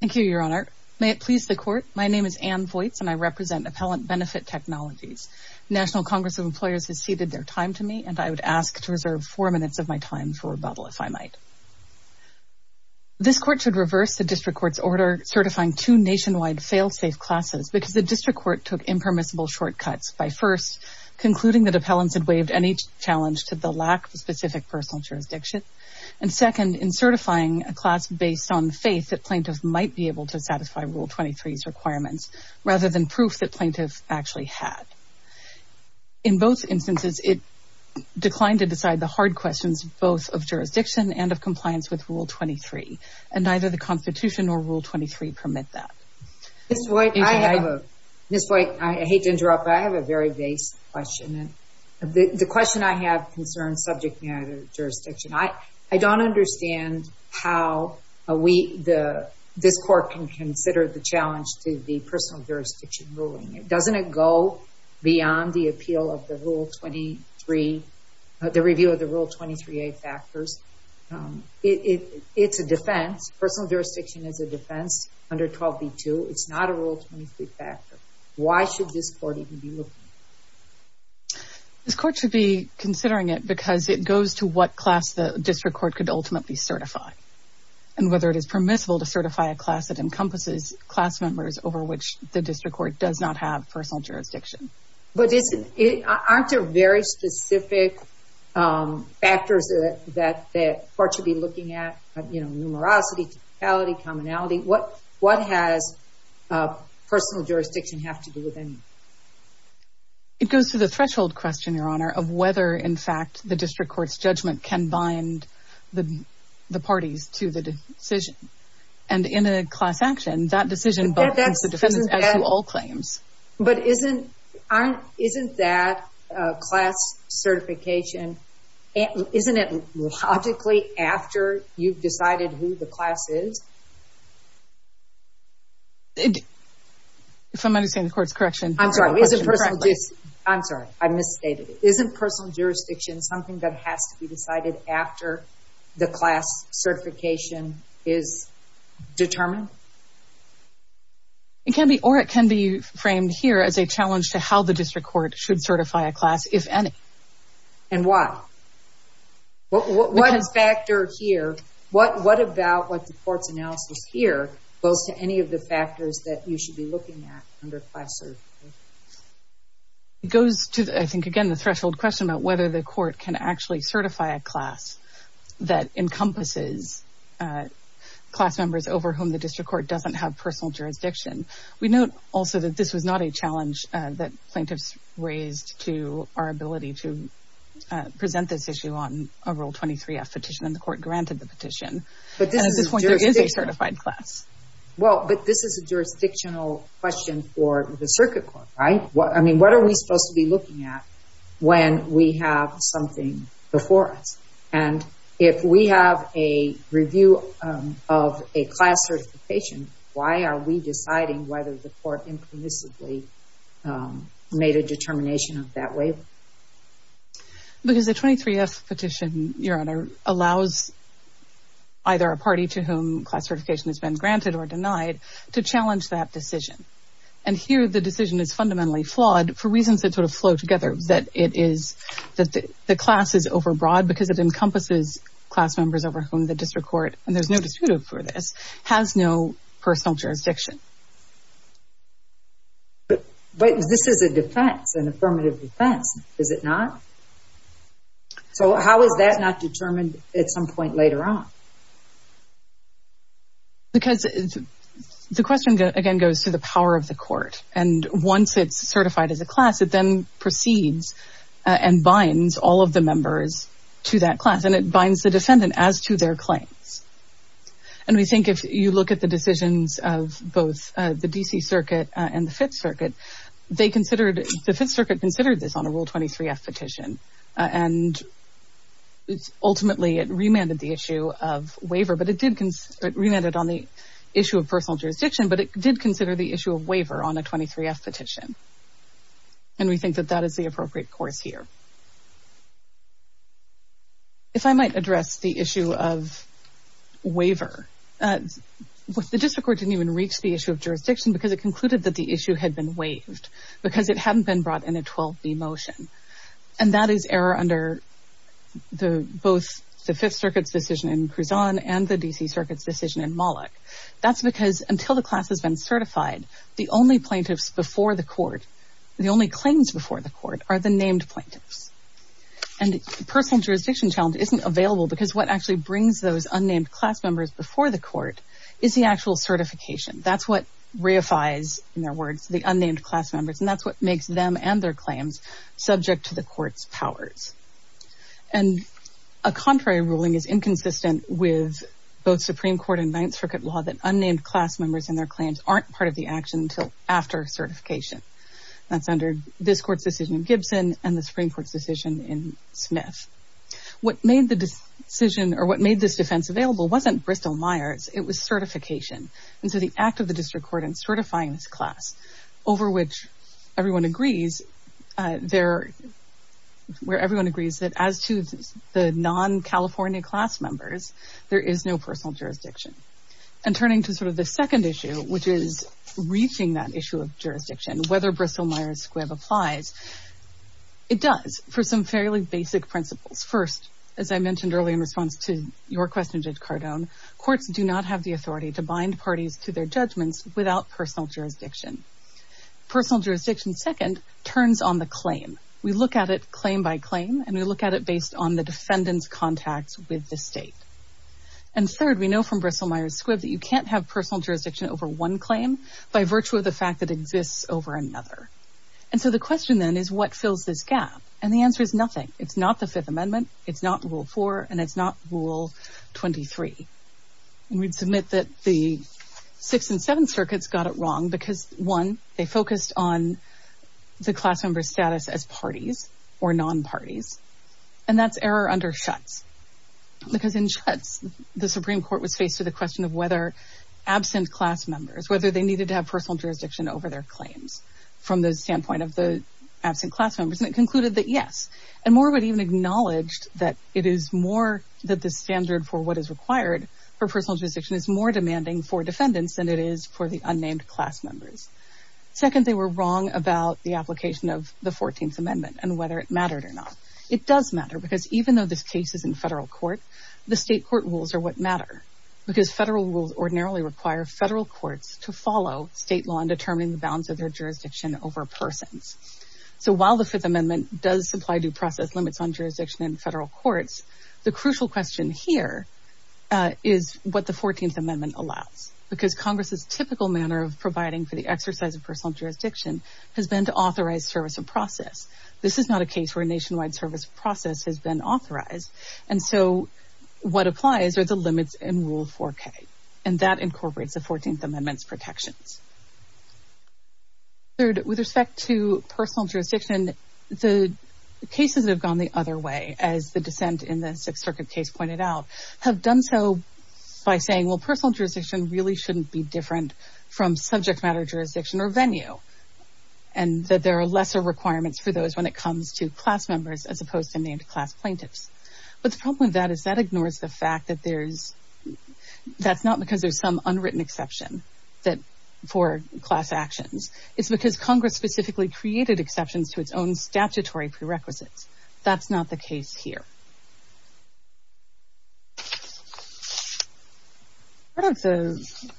Thank you, Your Honor. May it please the Court, my name is Anne Vojts and I represent Appellant Benefitt Technologies. The National Congress of Employers has ceded their time to me and I would ask to reserve four minutes of my time for rebuttal, if I might. This Court should reverse the District Court's order certifying two nationwide fail-safe classes because the District Court took impermissible shortcuts by, first, concluding that appellants had waived any challenge to the lack of a specific personal jurisdiction, and second, in certifying a class based on faith that plaintiffs might be able to satisfy Rule 23's requirements, rather than proof that plaintiffs actually had. In both instances, it declined to decide the hard questions both of jurisdiction and of compliance with Rule 23, and neither the Constitution nor Rule 23 permit that. Ms. Vojts, I hate to interrupt, but I have a very basic question. The question I have concerns subject matter jurisdiction. I don't understand how this Court can consider the challenge to the personal jurisdiction ruling. Doesn't it go beyond the appeal of the Rule 23, the review of the Rule 23a factors? It's a defense. Personal jurisdiction is a defense under 12b-2. It's not a Rule 23 factor. Why should this Court even be looking at it? This Court should be considering it because it goes to what class the District Court could ultimately certify, and whether it is permissible to certify a class that encompasses class members over which the District Court does not have personal jurisdiction. But aren't there very specific factors that the Court should be looking at? You know, numerosity, totality, commonality. What does personal jurisdiction have to do with any of that? It goes to the threshold question, Your Honor, of whether, in fact, the District Court's judgment can bind the parties to the decision. And in a class action, that decision both means the defense as to all claims. But isn't that class certification, isn't it logically after you've decided who the class is? If I'm understanding the Court's correction. I'm sorry. I misstated it. Isn't personal jurisdiction something that has to be decided after the class certification is determined? It can be, or it can be framed here as a challenge to how the District Court should certify a class, if any. And why? What factor here, what about what the Court's analysis here goes to any of the factors that you should be looking at under class certification? It goes to, I think, again, the threshold question about whether the Court can actually certify a class that encompasses class members over whom the District Court doesn't have personal jurisdiction. We note also that this was not a challenge that plaintiffs raised to our ability to present this issue on a Rule 23-F petition, and the Court granted the petition. But at this point, there is a certified class. Well, but this is a jurisdictional question for the Circuit Court, right? I mean, what are we supposed to be looking at when we have something before us? And if we have a review of a class certification, why are we deciding whether the Court implicitly made a determination of that waiver? Because the 23-F petition, Your Honor, allows either a party to whom class certification has been granted or denied to challenge that decision. And here, the decision is fundamentally flawed for reasons that sort of flow together, that the class is overbroad because it encompasses class members over whom the District Court, and there's no dispute over this, has no personal jurisdiction. But this is a defense, an affirmative defense, is it not? So how is that not determined at some point later on? Because the question, again, goes to the power of the Court. And once it's certified as a class, it then proceeds and binds all of the members to that class, and it binds the defendant as to their claims. And we think if you look at the decisions of both the D.C. Circuit and the Fifth Circuit, they considered, the Fifth Circuit considered this on a Rule 23-F petition, and ultimately it remanded the issue of waiver. But it remanded on the issue of personal jurisdiction, but it did consider the issue of waiver on a 23-F petition. And we think that that is the appropriate course here. If I might address the issue of waiver, the District Court didn't even reach the issue of jurisdiction because it concluded that the issue had been waived because it hadn't been brought in a 12-B motion. And that is error under both the Fifth Circuit's decision in Crouzon and the D.C. Circuit's decision in Moloch. That's because until the class has been certified, the only plaintiffs before the Court, the only claims before the Court are the named plaintiffs. And personal jurisdiction challenge isn't available because what actually brings those unnamed class members before the Court is the actual certification. That's what reifies, in their words, the unnamed class members, and that's what makes them and their claims. subject to the Court's powers. And a contrary ruling is inconsistent with both Supreme Court and Ninth Circuit law that unnamed class members and their claims aren't part of the action until after certification. That's under this Court's decision in Gibson and the Supreme Court's decision in Smith. What made this defense available wasn't Bristol-Myers, it was certification. And so the act of the District Court in certifying this class, over which everyone agrees, where everyone agrees that as to the non-California class members, there is no personal jurisdiction. And turning to sort of the second issue, which is reaching that issue of jurisdiction, whether Bristol-Myers Squibb applies, it does, for some fairly basic principles. First, as I mentioned earlier in response to your question, Judge Cardone, courts do not have the authority to bind parties to their judgments without personal jurisdiction. Personal jurisdiction, second, turns on the claim. We look at it claim by claim, and we look at it based on the defendant's contacts with the state. And third, we know from Bristol-Myers Squibb that you can't have personal jurisdiction over one claim by virtue of the fact that it exists over another. And so the question, then, is what fills this gap? And the answer is nothing. It's not the Fifth Amendment, it's not Rule 4, and it's not Rule 23. And we'd submit that the Sixth and Seventh Circuits got it wrong because, one, they focused on the class member's status as parties or non-parties, and that's error under Schutz. Because in Schutz, the Supreme Court was faced with the question of whether absent class members, whether they needed to have personal jurisdiction over their claims from the standpoint of the absent class members, and it concluded that yes. And Moorewood even acknowledged that it is more that the standard for what is required for personal jurisdiction is more demanding for defendants than it is for the unnamed class members. Second, they were wrong about the application of the Fourteenth Amendment and whether it mattered or not. It does matter because even though this case is in federal court, the state court rules are what matter. Because federal rules ordinarily require federal courts to follow state law and determine the balance of their jurisdiction over persons. So while the Fifth Amendment does supply due process limits on jurisdiction in federal courts, the crucial question here is what the Fourteenth Amendment allows. Because Congress's typical manner of providing for the exercise of personal jurisdiction has been to authorize service of process. This is not a case where nationwide service of process has been authorized, and so what applies are the limits in Rule 4K. And that incorporates the Fourteenth Amendment's protections. Third, with respect to personal jurisdiction, the cases have gone the other way, as the dissent in the Sixth Circuit case pointed out, have done so by saying, well, personal jurisdiction really shouldn't be different from subject matter jurisdiction or venue, and that there are lesser requirements for those when it comes to class members as opposed to named class plaintiffs. But the problem with that is that ignores the fact that there's, that's not because there's some unwritten exception for class actions. It's because Congress specifically created exceptions to its own statutory prerequisites. That's not the case here. Part of the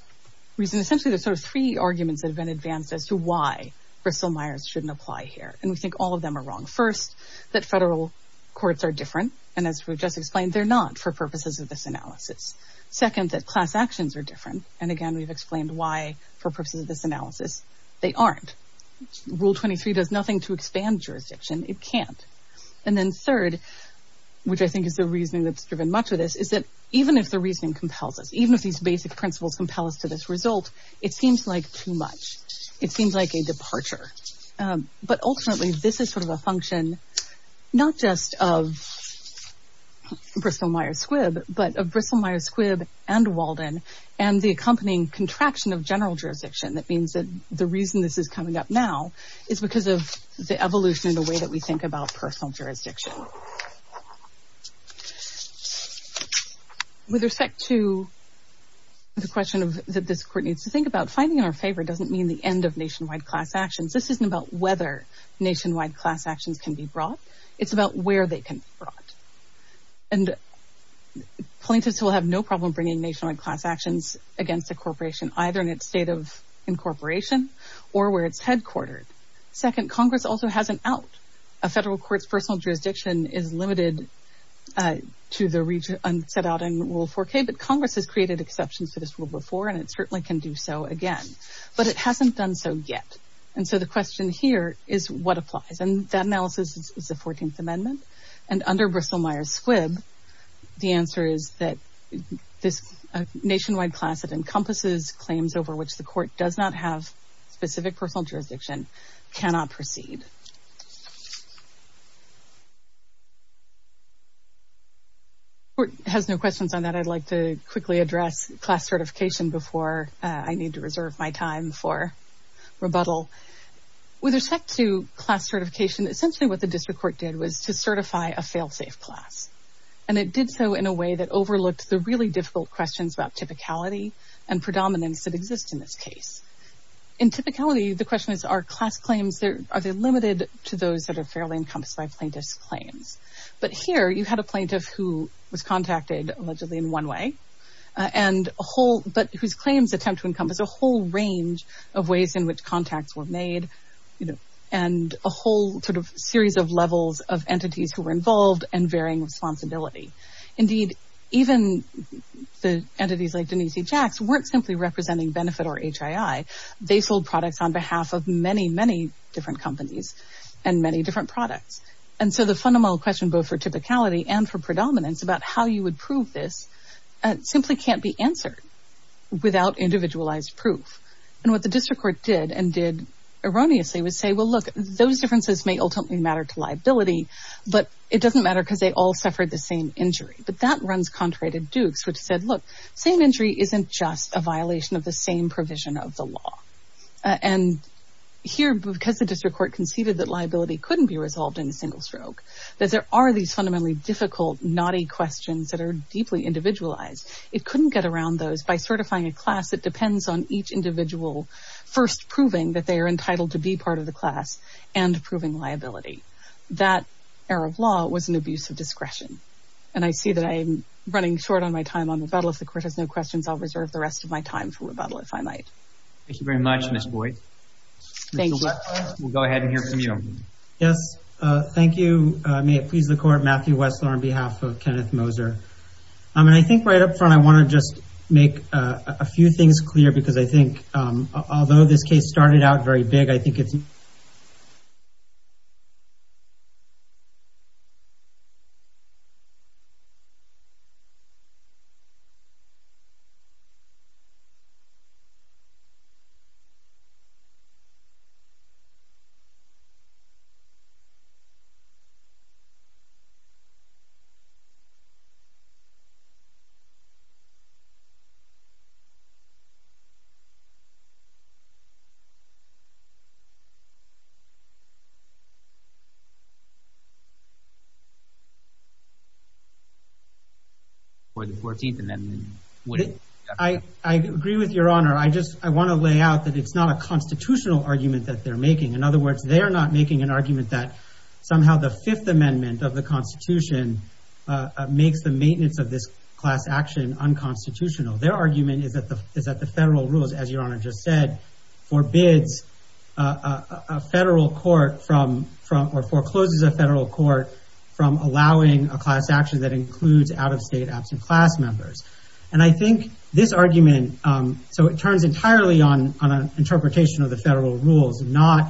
reason, essentially there's sort of three arguments that have been advanced as to why Bristol-Myers shouldn't apply here, and we think all of them are wrong. First, that federal courts are different, and as we've just explained, they're not for purposes of this analysis. Second, that class actions are different, and again we've explained why for purposes of this analysis, they aren't. Rule 23 does nothing to expand jurisdiction, it can't. And then third, which I think is the reasoning that's driven much of this, is that even if the reasoning compels us, even if these basic principles compel us to this result, it seems like too much. It seems like a departure. But ultimately, this is sort of a function, not just of Bristol-Myers Squibb, but of Bristol-Myers Squibb and Walden, and the accompanying contraction of general jurisdiction. That means that the reason this is coming up now is because of the evolution in the way that we think about personal jurisdiction. With respect to the question that this court needs to think about, finding in our favor doesn't mean the end of nationwide class actions. This isn't about whether nationwide class actions can be brought, it's about where they can be brought. And plaintiffs will have no problem bringing nationwide class actions against a corporation, either in its state of incorporation or where it's headquartered. Second, Congress also has an out. A federal court's personal jurisdiction is limited to the region set out in Rule 4K, but Congress has created exceptions to this rule before, and it certainly can do so again. But it hasn't done so yet. And so the question here is what applies. And that analysis is the 14th Amendment. And under Bristol-Myers Squibb, the answer is that this nationwide class that encompasses claims over which the court does not have specific personal jurisdiction cannot proceed. The court has no questions on that. I'd like to quickly address class certification before I need to reserve my time for rebuttal. With respect to class certification, essentially what the district court did was to certify a fail-safe class. And it did so in a way that overlooked the really difficult questions about typicality and predominance that exist in this case. In typicality, the question is are class claims, are they limited to those that are fairly encompassed by plaintiff's claims? But here you had a plaintiff who was contacted allegedly in one way, but whose claims attempt to encompass a whole range of ways in which contacts were made and a whole series of levels of entities who were involved and varying responsibility. Indeed, even the entities like Denise E. Jaxx weren't simply representing Benefit or HII. They sold products on behalf of many, many different companies and many different products. And so the fundamental question both for typicality and for predominance about how you would prove this simply can't be answered without individualized proof. And what the district court did and did erroneously was say, well, look, those differences may ultimately matter to liability, but it doesn't matter because they all suffered the same injury. But that runs contrary to Dukes, which said, look, same injury isn't just a violation of the same provision of the law. And here, because the district court conceded that liability couldn't be resolved in a single stroke, that there are these fundamentally difficult, naughty questions that are deeply individualized, it couldn't get around those by certifying a class that depends on each individual first proving that they are entitled to be part of the class and proving liability. That error of law was an abuse of discretion. And I see that I'm running short on my time on rebuttal. If the court has no questions, I'll reserve the rest of my time for rebuttal, if I might. Thank you very much, Ms. Boyd. Thank you. We'll go ahead and hear from you. Yes, thank you. May it please the court, Matthew Wessler on behalf of Kenneth Moser. I mean, I think right up front, I want to just make a few things clear, because I think although this case started out very big, I think it's... ...for the 14th Amendment. I agree with Your Honor. I just want to lay out that it's not a constitutional argument that they're making. In other words, they are not making an argument that somehow the Fifth Amendment of the Constitution makes the maintenance of this class action unconstitutional. Their argument is that the federal rules, as Your Honor just said, forbids a federal court from... ...or forecloses a federal court from allowing a class action that includes out-of-state absent class members. And I think this argument... So it turns entirely on an interpretation of the federal rules, not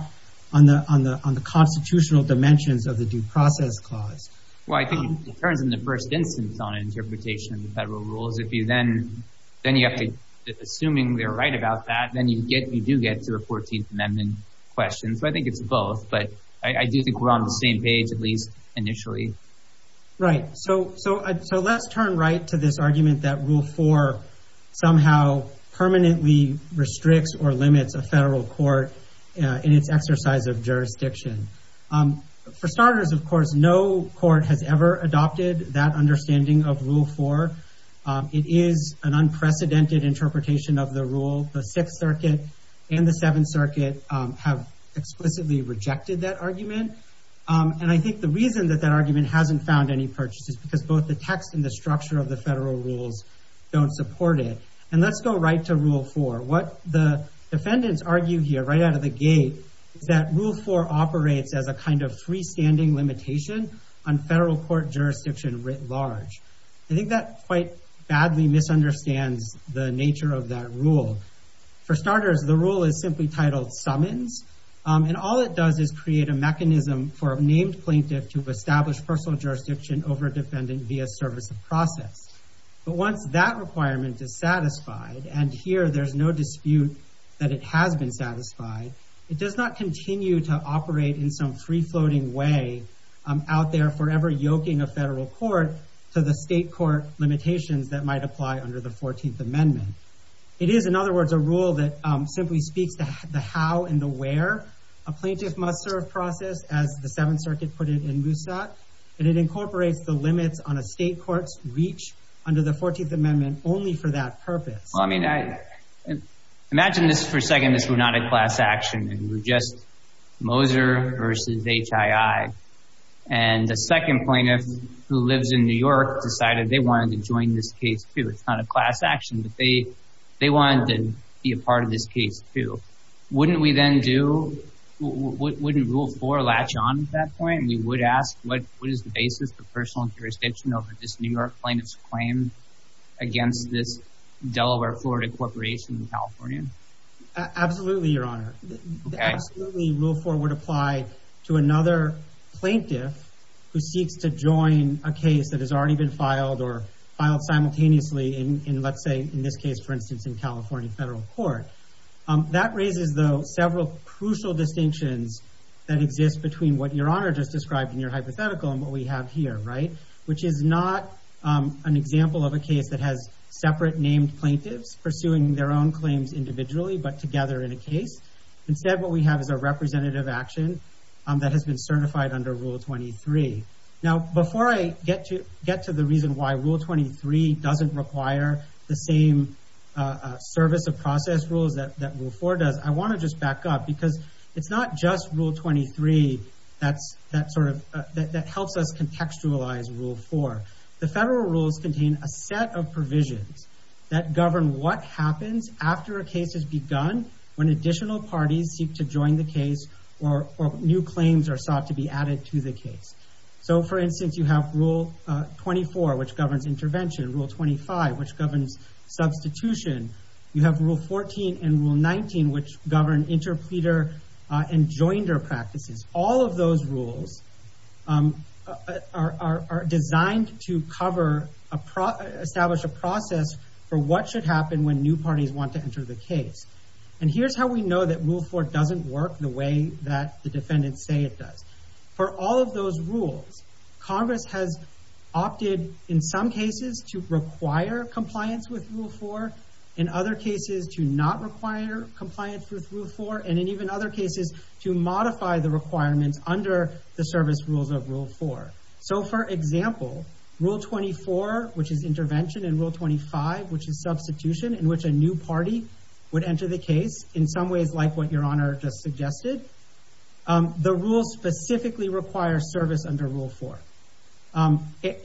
on the constitutional dimensions of the Due Process Clause. Well, I think it turns in the first instance on an interpretation of the federal rules. If you then... Then you have to... Assuming they're right about that, then you do get to a 14th Amendment question. So I think it's both. But I do think we're on the same page, at least initially. Right. So let's turn right to this argument that Rule 4 somehow permanently restricts or limits a federal court in its exercise of jurisdiction. For starters, of course, no court has ever adopted that understanding of Rule 4. It is an unprecedented interpretation of the rule. The Sixth Circuit and the Seventh Circuit have explicitly rejected that argument. And I think the reason that that argument hasn't found any purchase is because both the text and the structure of the federal rules don't support it. And let's go right to Rule 4. What the defendants argue here, right out of the gate, is that Rule 4 operates as a kind of freestanding limitation on federal court jurisdiction writ large. I think that quite badly misunderstands the nature of that rule. For starters, the rule is simply titled Summons. And all it does is create a mechanism for a named plaintiff to establish personal jurisdiction over a defendant via service of process. But once that requirement is satisfied, and here there's no dispute that it has been satisfied, it does not continue to operate in some free-floating way out there forever yoking a federal court to the state court limitations that might apply under the 14th Amendment. It is, in other words, a rule that simply speaks to the how and the where a plaintiff must serve process, as the Seventh Circuit put it in Moosat. And it incorporates the limits on a state court's reach under the 14th Amendment only for that purpose. Well, I mean, imagine this for a second. This was not a class action, and we're just Moser versus HII. And a second plaintiff who lives in New York decided they wanted to join this case, too. It's not a class action, but they wanted to be a part of this case, too. Wouldn't we then do—wouldn't Rule 4 latch on at that point? And we would ask what is the basis for personal jurisdiction over this New York plaintiff's claim against this Delaware-Florida corporation in California? Absolutely, Your Honor. Absolutely, Rule 4 would apply to another plaintiff who seeks to join a case that has already been filed or filed simultaneously in, let's say, in this case, for instance, in California federal court. That raises, though, several crucial distinctions that exist between what Your Honor just described in your hypothetical and what we have here, right, which is not an example of a case that has separate named plaintiffs pursuing their own claims individually but together in a case. Instead, what we have is a representative action that has been certified under Rule 23. Now, before I get to the reason why Rule 23 doesn't require the same service of process rules that Rule 4 does, I want to just back up because it's not just Rule 23 that helps us contextualize Rule 4. The federal rules contain a set of provisions that govern what happens after a case has begun when additional parties seek to join the case or new claims are sought to be added to the case. So, for instance, you have Rule 24, which governs intervention. Rule 25, which governs substitution. You have Rule 14 and Rule 19, which govern interpleader and joinder practices. All of those rules are designed to establish a process for what should happen when new parties want to enter the case. And here's how we know that Rule 4 doesn't work the way that the defendants say it does. For all of those rules, Congress has opted, in some cases, to require compliance with Rule 4, in other cases, to not require compliance with Rule 4, and in even other cases, to modify the requirements under the service rules of Rule 4. So, for example, Rule 24, which is intervention, and Rule 25, which is substitution, in which a new party would enter the case, in some ways like what Your Honor just suggested, the rules specifically require service under Rule 4.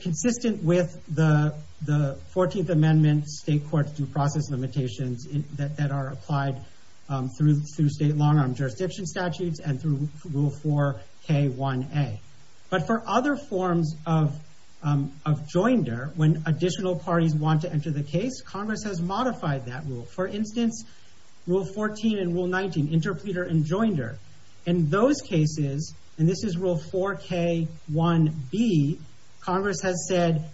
Consistent with the 14th Amendment, state courts do process limitations that are applied through state long-arm jurisdiction statutes and through Rule 4k1a. But for other forms of joinder, when additional parties want to enter the case, Congress has modified that rule. For instance, Rule 14 and Rule 19, interpleader and joinder. In those cases, and this is Rule 4k1b, Congress has said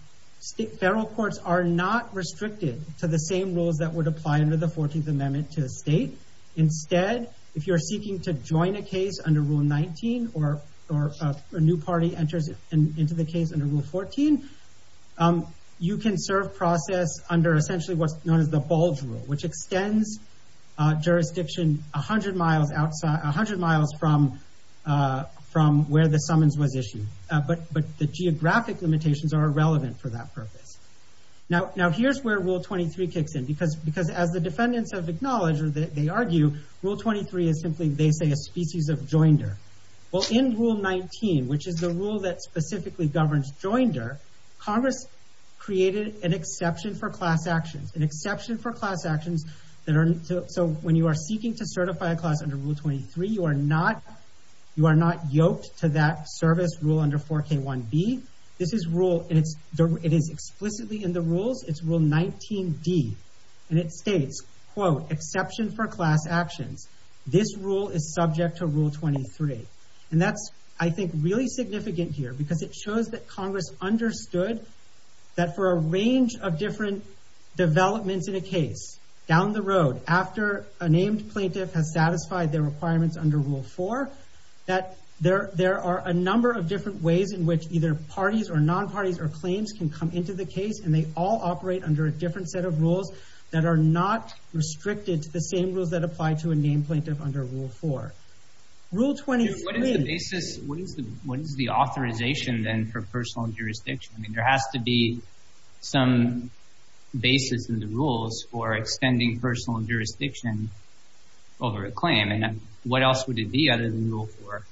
federal courts are not restricted to the same rules that would apply under the 14th Amendment to a state. Instead, if you're seeking to join a case under Rule 19, or a new party enters into the case under Rule 14, you can serve process under essentially what's known as the bulge rule, which extends jurisdiction 100 miles from where the summons was issued. But the geographic limitations are irrelevant for that purpose. Now, here's where Rule 23 kicks in, because as the defendants have acknowledged, or they argue, Rule 23 is simply, they say, a species of joinder. Well, in Rule 19, which is the rule that specifically governs joinder, Congress created an exception for class actions. An exception for class actions that are, so when you are seeking to certify a class under Rule 23, you are not yoked to that service rule under 4k1b. This is rule, and it is explicitly in the rules, it's Rule 19d. And it states, quote, exception for class actions. This rule is subject to Rule 23. And that's, I think, really significant here, because it shows that Congress understood that for a range of different developments in a case, down the road, after a named plaintiff has satisfied their requirements under Rule 4, that there are a number of different ways in which either parties or non-parties or claims can come into the case, and they all operate under a different set of rules that are not restricted to the same rules that apply to a named plaintiff under Rule 4. Rule 23... What is the authorization, then, for personal jurisdiction? I mean, there has to be some basis in the rules for extending personal jurisdiction over a claim. And what else would it be other than Rule 4?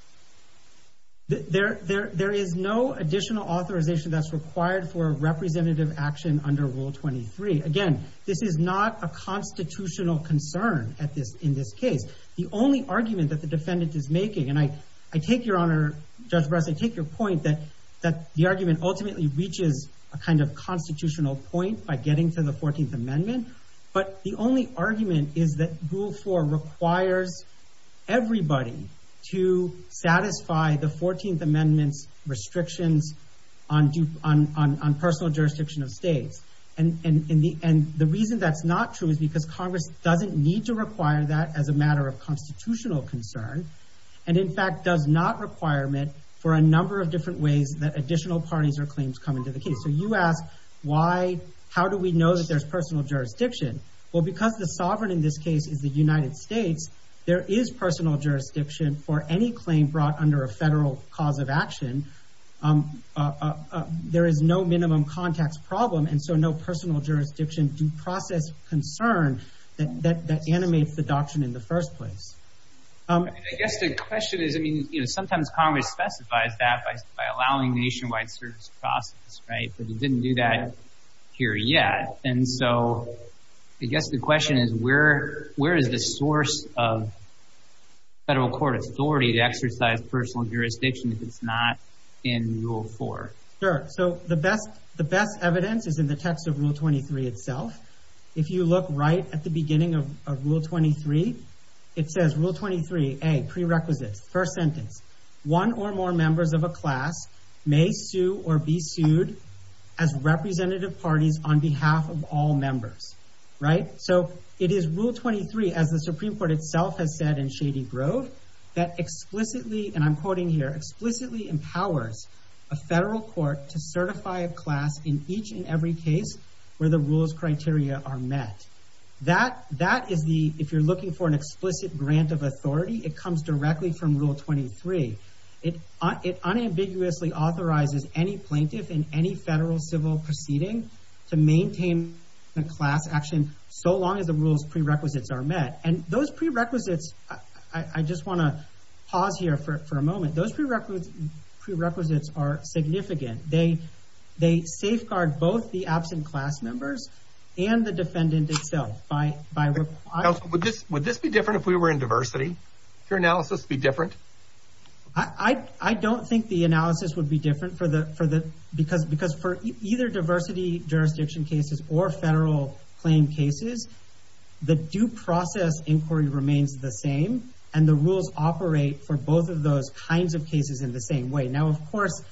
There is no additional authorization that's required for representative action under Rule 23. Again, this is not a constitutional concern in this case. The only argument that the defendant is making, and I take your honor, Judge Bress, I take your point that the argument ultimately reaches a kind of constitutional point by getting to the 14th Amendment. But the only argument is that Rule 4 requires everybody to satisfy the 14th Amendment's restrictions on personal jurisdiction of states. And the reason that's not true is because Congress doesn't need to require that as a matter of constitutional concern, and in fact does not requirement for a number of different ways that additional parties or claims come into the case. So you ask, how do we know that there's personal jurisdiction? Well, because the sovereign in this case is the United States, there is personal jurisdiction for any claim brought under a federal cause of action. There is no minimum context problem, and so no personal jurisdiction due process concern that animates the doctrine in the first place. I guess the question is, I mean, you know, sometimes Congress specifies that by allowing nationwide service process, right? But it didn't do that here yet. And so I guess the question is, where is the source of federal court authority to exercise personal jurisdiction if it's not in Rule 4? Sure. So the best evidence is in the text of Rule 23 itself. If you look right at the beginning of Rule 23, it says Rule 23A, prerequisites, first sentence, one or more members of a class may sue or be sued as representative parties on behalf of all members, right? So it is Rule 23, as the Supreme Court itself has said in Shady Grove, that explicitly, and I'm quoting here, explicitly empowers a federal court to certify a class in each and every case where the rules criteria are met. That is the, if you're looking for an explicit grant of authority, it comes directly from Rule 23. It unambiguously authorizes any plaintiff in any federal civil proceeding to maintain a class action so long as the rules prerequisites are met. And those prerequisites, I just want to pause here for a moment, those prerequisites are significant. They safeguard both the absent class members and the defendant itself. Counsel, would this be different if we were in diversity? Would your analysis be different? I don't think the analysis would be different because for either diversity jurisdiction cases or federal claim cases, the due process inquiry remains the same, and the rules operate for both of those kinds of cases in the same way. Now, of course,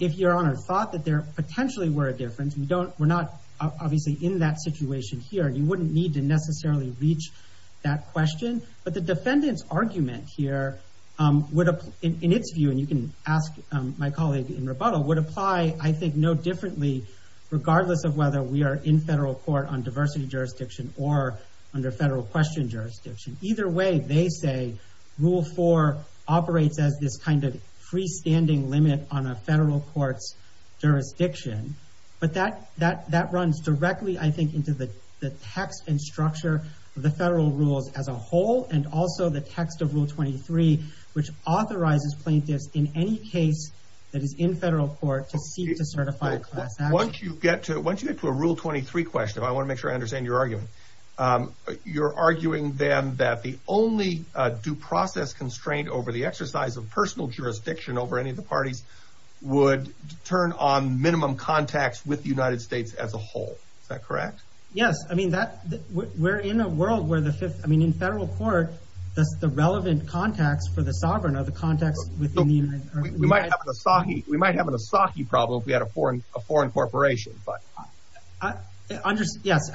if your Honor thought that there potentially were a difference, we're not obviously in that situation here. You wouldn't need to necessarily reach that question. But the defendant's argument here would, in its view, and you can ask my colleague in rebuttal, would apply, I think, no differently regardless of whether we are in federal court on diversity jurisdiction or under federal question jurisdiction. Either way, they say Rule 4 operates as this kind of freestanding limit on a federal court's jurisdiction. But that runs directly, I think, into the text and structure of the federal rules as a whole and also the text of Rule 23, which authorizes plaintiffs in any case that is in federal court to seek to certify a class action. Once you get to a Rule 23 question, I want to make sure I understand your argument, you're arguing then that the only due process constraint over the exercise of personal jurisdiction over any of the parties would turn on minimum contacts with the United States as a whole. Is that correct? Yes. I mean, we're in a world where in federal court, the relevant contacts for the sovereign are the contacts within the United States. We might have an Asahi problem if we had a foreign corporation. Yes,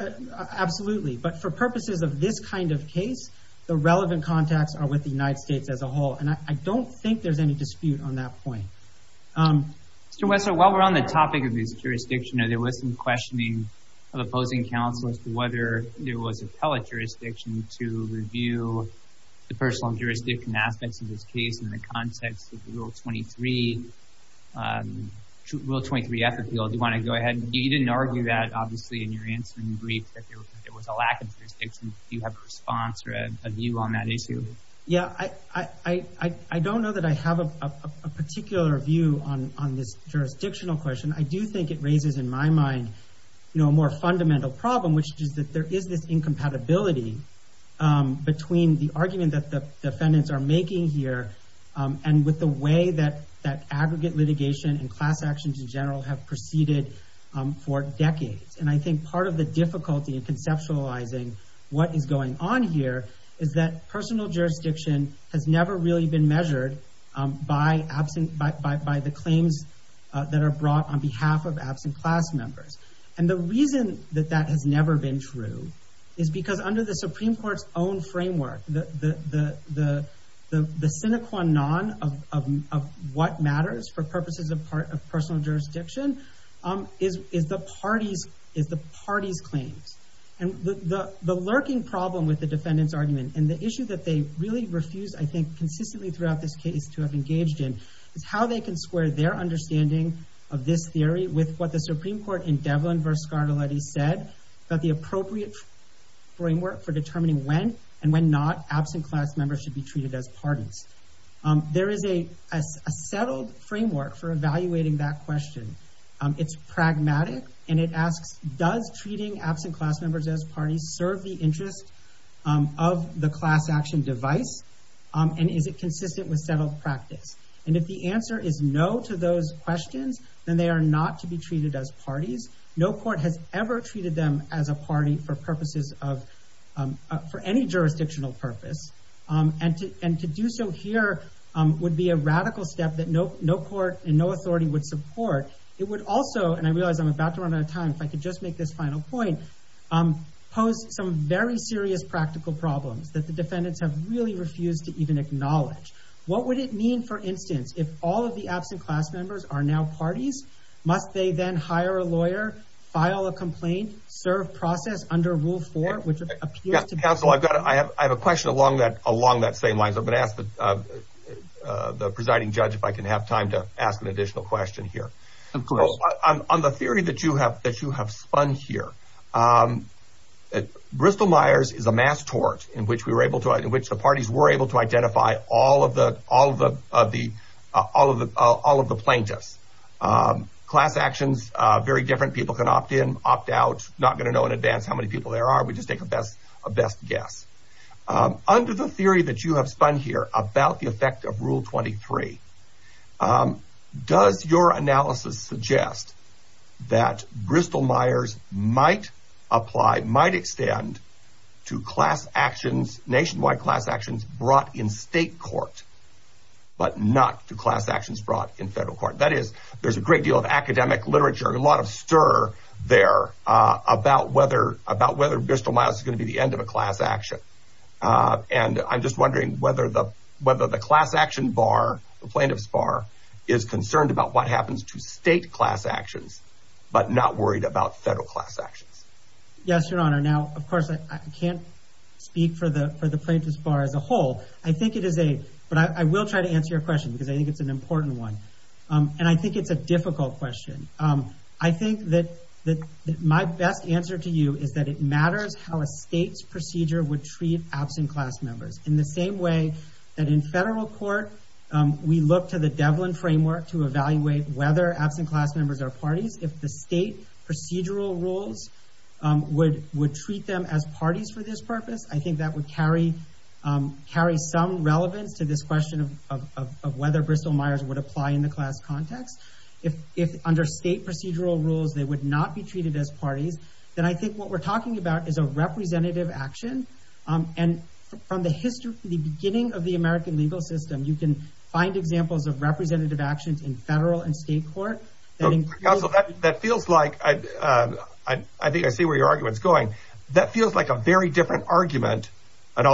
absolutely. But for purposes of this kind of case, the relevant contacts are with the United States as a whole. And I don't think there's any dispute on that point. Mr. Wessler, while we're on the topic of this jurisdiction, there was some questioning of opposing counsel as to whether there was appellate jurisdiction to review the personal jurisdiction aspects of this case in the context of the Rule 23, Rule 23F appeal. Do you want to go ahead? You didn't argue that, obviously, in your answer in the brief, that there was a lack of jurisdiction. Do you have a response or a view on that issue? Yeah, I don't know that I have a particular view on this jurisdictional question. I do think it raises, in my mind, a more fundamental problem, which is that there is this incompatibility between the argument that the defendants are making here and with the way that aggregate litigation and class actions in general have proceeded for decades. And I think part of the difficulty in conceptualizing what is going on here is that personal jurisdiction has never really been measured by the claims that are brought on behalf of absent class members. And the reason that that has never been true is because under the Supreme Court's own framework, the sine qua non of what matters for purposes of personal jurisdiction is the parties' claims. And the lurking problem with the defendants' argument, and the issue that they really refused, I think, consistently throughout this case to have engaged in, is how they can square their understanding of this theory with what the Supreme Court in Devlin v. Scarlatti said, that the appropriate framework for determining when and when not absent class members should be treated as parties. There is a settled framework for evaluating that question. It's pragmatic, and it asks, does treating absent class members as parties serve the interest of the class action device? And is it consistent with settled practice? And if the answer is no to those questions, then they are not to be treated as parties. No court has ever treated them as a party for purposes of, for any jurisdictional purpose. And to do so here would be a radical step that no court and no authority would support. It would also, and I realize I'm about to run out of time, if I could just make this final point, pose some very serious practical problems that the defendants have really refused to even acknowledge. What would it mean, for instance, if all of the absent class members are now parties? Must they then hire a lawyer, file a complaint, serve process under Rule 4, which appears to be— Counsel, I have a question along that same lines. I'm going to ask the presiding judge if I can have time to ask an additional question here. Of course. On the theory that you have spun here, Bristol-Myers is a mass tort in which the parties were able to identify all of the plaintiffs. Class actions are very different. People can opt in, opt out, not going to know in advance how many people there are. We just take a best guess. Under the theory that you have spun here about the effect of Rule 23, does your analysis suggest that Bristol-Myers might apply, might extend to class actions, nationwide class actions brought in state court, but not to class actions brought in federal court? That is, there's a great deal of academic literature, a lot of stir there about whether Bristol-Myers is going to be the end of a class action. And I'm just wondering whether the class action bar, the plaintiff's bar, is concerned about what happens to state class actions but not worried about federal class actions. Yes, Your Honor. Now, of course, I can't speak for the plaintiff's bar as a whole. But I will try to answer your question because I think it's an important one. And I think it's a difficult question. I think that my best answer to you is that it matters how a state's procedure would treat absent class members. In the same way that in federal court, we look to the Devlin framework to evaluate whether absent class members are parties. If the state procedural rules would treat them as parties for this purpose, I think that would carry some relevance to this question of whether Bristol-Myers would apply in the class context. If under state procedural rules they would not be treated as parties, then I think what we're talking about is a representative action. And from the beginning of the American legal system, you can find examples of representative actions in federal and state court. Counsel, that feels like – I think I see where your argument is going. That feels like a very different argument, an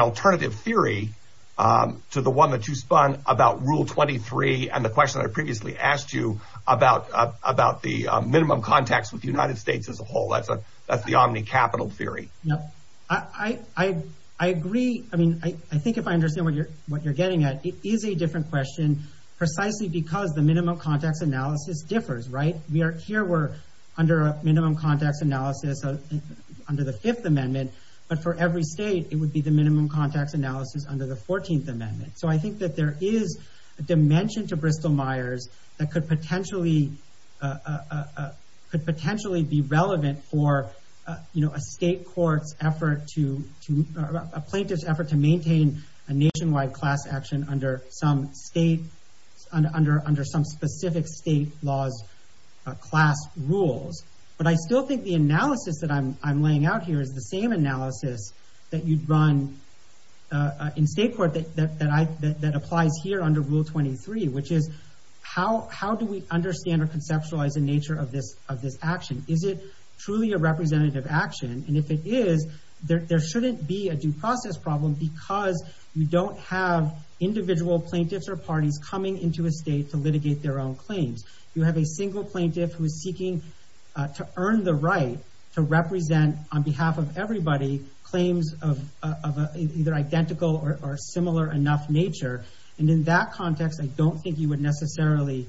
alternative theory to the one that you spun about Rule 23 and the question I previously asked you about the minimum context with the United States as a whole. That's the omni-capital theory. I agree. I mean, I think if I understand what you're getting at, it is a different question. I mean, precisely because the minimum context analysis differs, right? Here we're under a minimum context analysis under the Fifth Amendment, but for every state it would be the minimum context analysis under the Fourteenth Amendment. So I think that there is a dimension to Bristol-Myers that could potentially be relevant for a state court's effort to – under some specific state law's class rules. But I still think the analysis that I'm laying out here is the same analysis that you'd run in state court that applies here under Rule 23, which is how do we understand or conceptualize the nature of this action? Is it truly a representative action? And if it is, there shouldn't be a due process problem because you don't have individual plaintiffs or parties coming into a state to litigate their own claims. You have a single plaintiff who is seeking to earn the right to represent on behalf of everybody claims of either identical or similar enough nature. And in that context, I don't think you would necessarily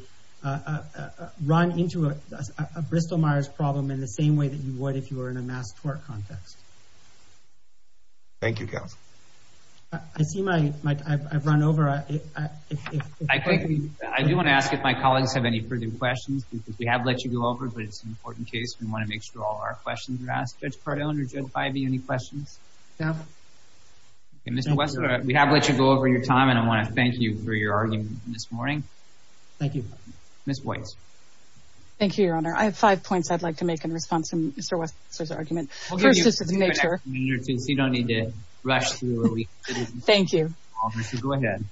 run into a Bristol-Myers problem in the same way that you would if you were in a mass court context. Thank you, counsel. I see my – I've run over. I do want to ask if my colleagues have any further questions because we have let you go over, but it's an important case. We want to make sure all of our questions are asked. Judge Cardone or Judge Ivey, any questions? No. Mr. Wessler, we have let you go over your time, and I want to thank you for your argument this morning. Thank you. Ms. Boyce. Thank you, Your Honor. I have five points I'd like to make in response to Mr. Wessler's argument. First is the nature. You don't need to rush through. Thank you. Go ahead.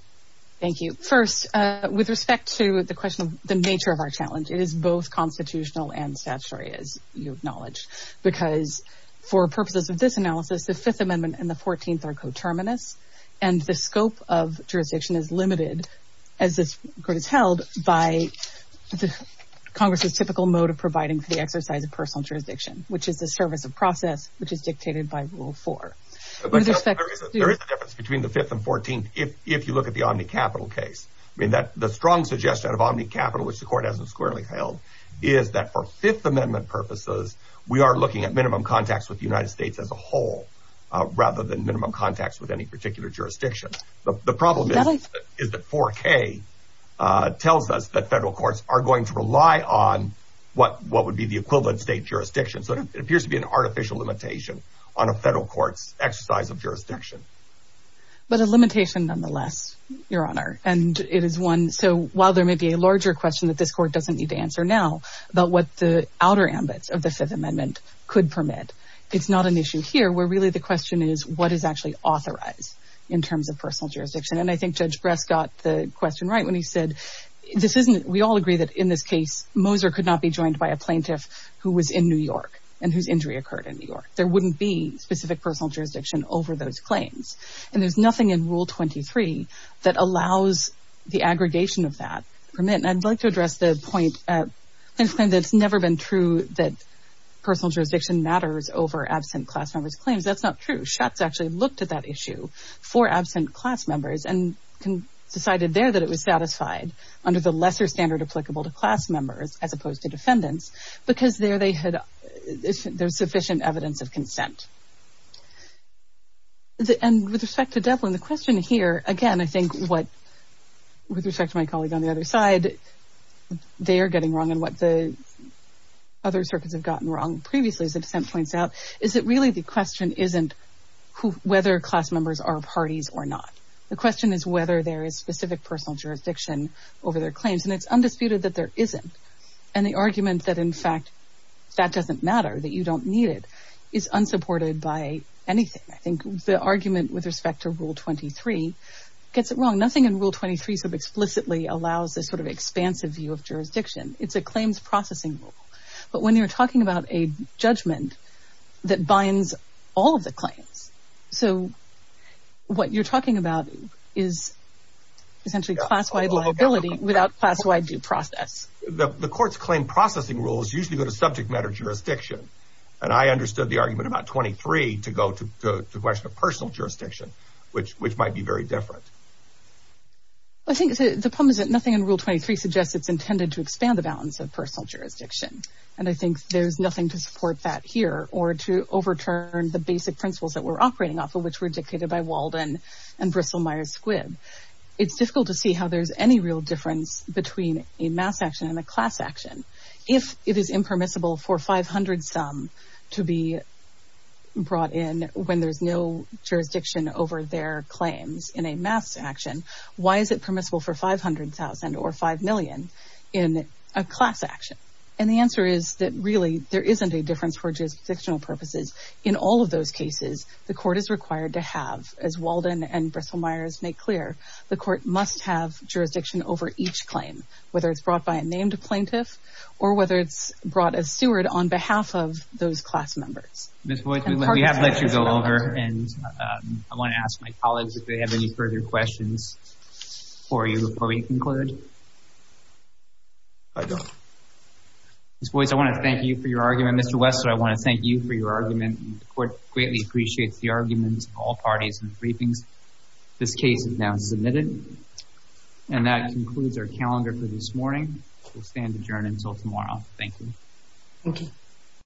Thank you. First, with respect to the question of the nature of our challenge, it is both constitutional and statutory, as you acknowledge, because for purposes of this analysis, the Fifth Amendment and the Fourteenth are coterminous, and the scope of jurisdiction is limited, as this Court has held, by Congress's typical mode of providing for the exercise of personal jurisdiction, which is the service of process, which is dictated by Rule 4. There is a difference between the Fifth and Fourteenth if you look at the Omni Capitol case. The strong suggestion of Omni Capitol, which the Court hasn't squarely held, is that for Fifth Amendment purposes, we are looking at minimum contacts with the United States as a whole rather than minimum contacts with any particular jurisdiction. The problem is that 4K tells us that federal courts are going to rely on what would be the equivalent state jurisdiction. So it appears to be an artificial limitation on a federal court's exercise of jurisdiction. But a limitation nonetheless, Your Honor. So while there may be a larger question that this Court doesn't need to answer now about what the outer ambits of the Fifth Amendment could permit, it's not an issue here where really the question is what is actually authorized in terms of personal jurisdiction. And I think Judge Bresk got the question right when he said, we all agree that in this case, Moser could not be joined by a plaintiff who was in New York and whose injury occurred in New York. There wouldn't be specific personal jurisdiction over those claims. And there's nothing in Rule 23 that allows the aggregation of that permit. And I'd like to address the point that it's never been true that personal jurisdiction matters over absent class members' claims. That's not true. Schutz actually looked at that issue for absent class members and decided there that it was satisfied under the lesser standard applicable to class members And with respect to Devlin, the question here, again, I think, with respect to my colleague on the other side, they are getting wrong and what the other circuits have gotten wrong previously, as the dissent points out, is that really the question isn't whether class members are parties or not. The question is whether there is specific personal jurisdiction over their claims. And it's undisputed that there isn't. And the argument that, in fact, that doesn't matter, that you don't need it, is unsupported by anything. I think the argument with respect to Rule 23 gets it wrong. Nothing in Rule 23 so explicitly allows this sort of expansive view of jurisdiction. It's a claims processing rule. But when you're talking about a judgment that binds all of the claims, so what you're talking about is essentially class-wide liability without class-wide due process. The court's claim processing rules usually go to subject matter jurisdiction. And I understood the argument about 23 to go to the question of personal jurisdiction, which might be very different. I think the problem is that nothing in Rule 23 suggests it's intended to expand the balance of personal jurisdiction. And I think there's nothing to support that here, or to overturn the basic principles that we're operating off of, which were dictated by Walden and Bristol Myers Squibb. It's difficult to see how there's any real difference between a mass action and a class action. If it is impermissible for 500-some to be brought in when there's no jurisdiction over their claims in a mass action, why is it permissible for 500,000 or 5 million in a class action? And the answer is that really there isn't a difference for jurisdictional purposes. In all of those cases, the court is required to have, as Walden and Bristol Myers make clear, the court must have jurisdiction over each claim, whether it's brought by a named plaintiff or whether it's brought as steward on behalf of those class members. Ms. Boyce, we have let you go over, and I want to ask my colleagues if they have any further questions for you before we conclude. Ms. Boyce, I want to thank you for your argument. Mr. Wessler, I want to thank you for your argument. The court greatly appreciates the arguments of all parties in the briefings. This case is now submitted. And that concludes our calendar for this morning. We'll stand adjourned until tomorrow. Thank you. Thank you.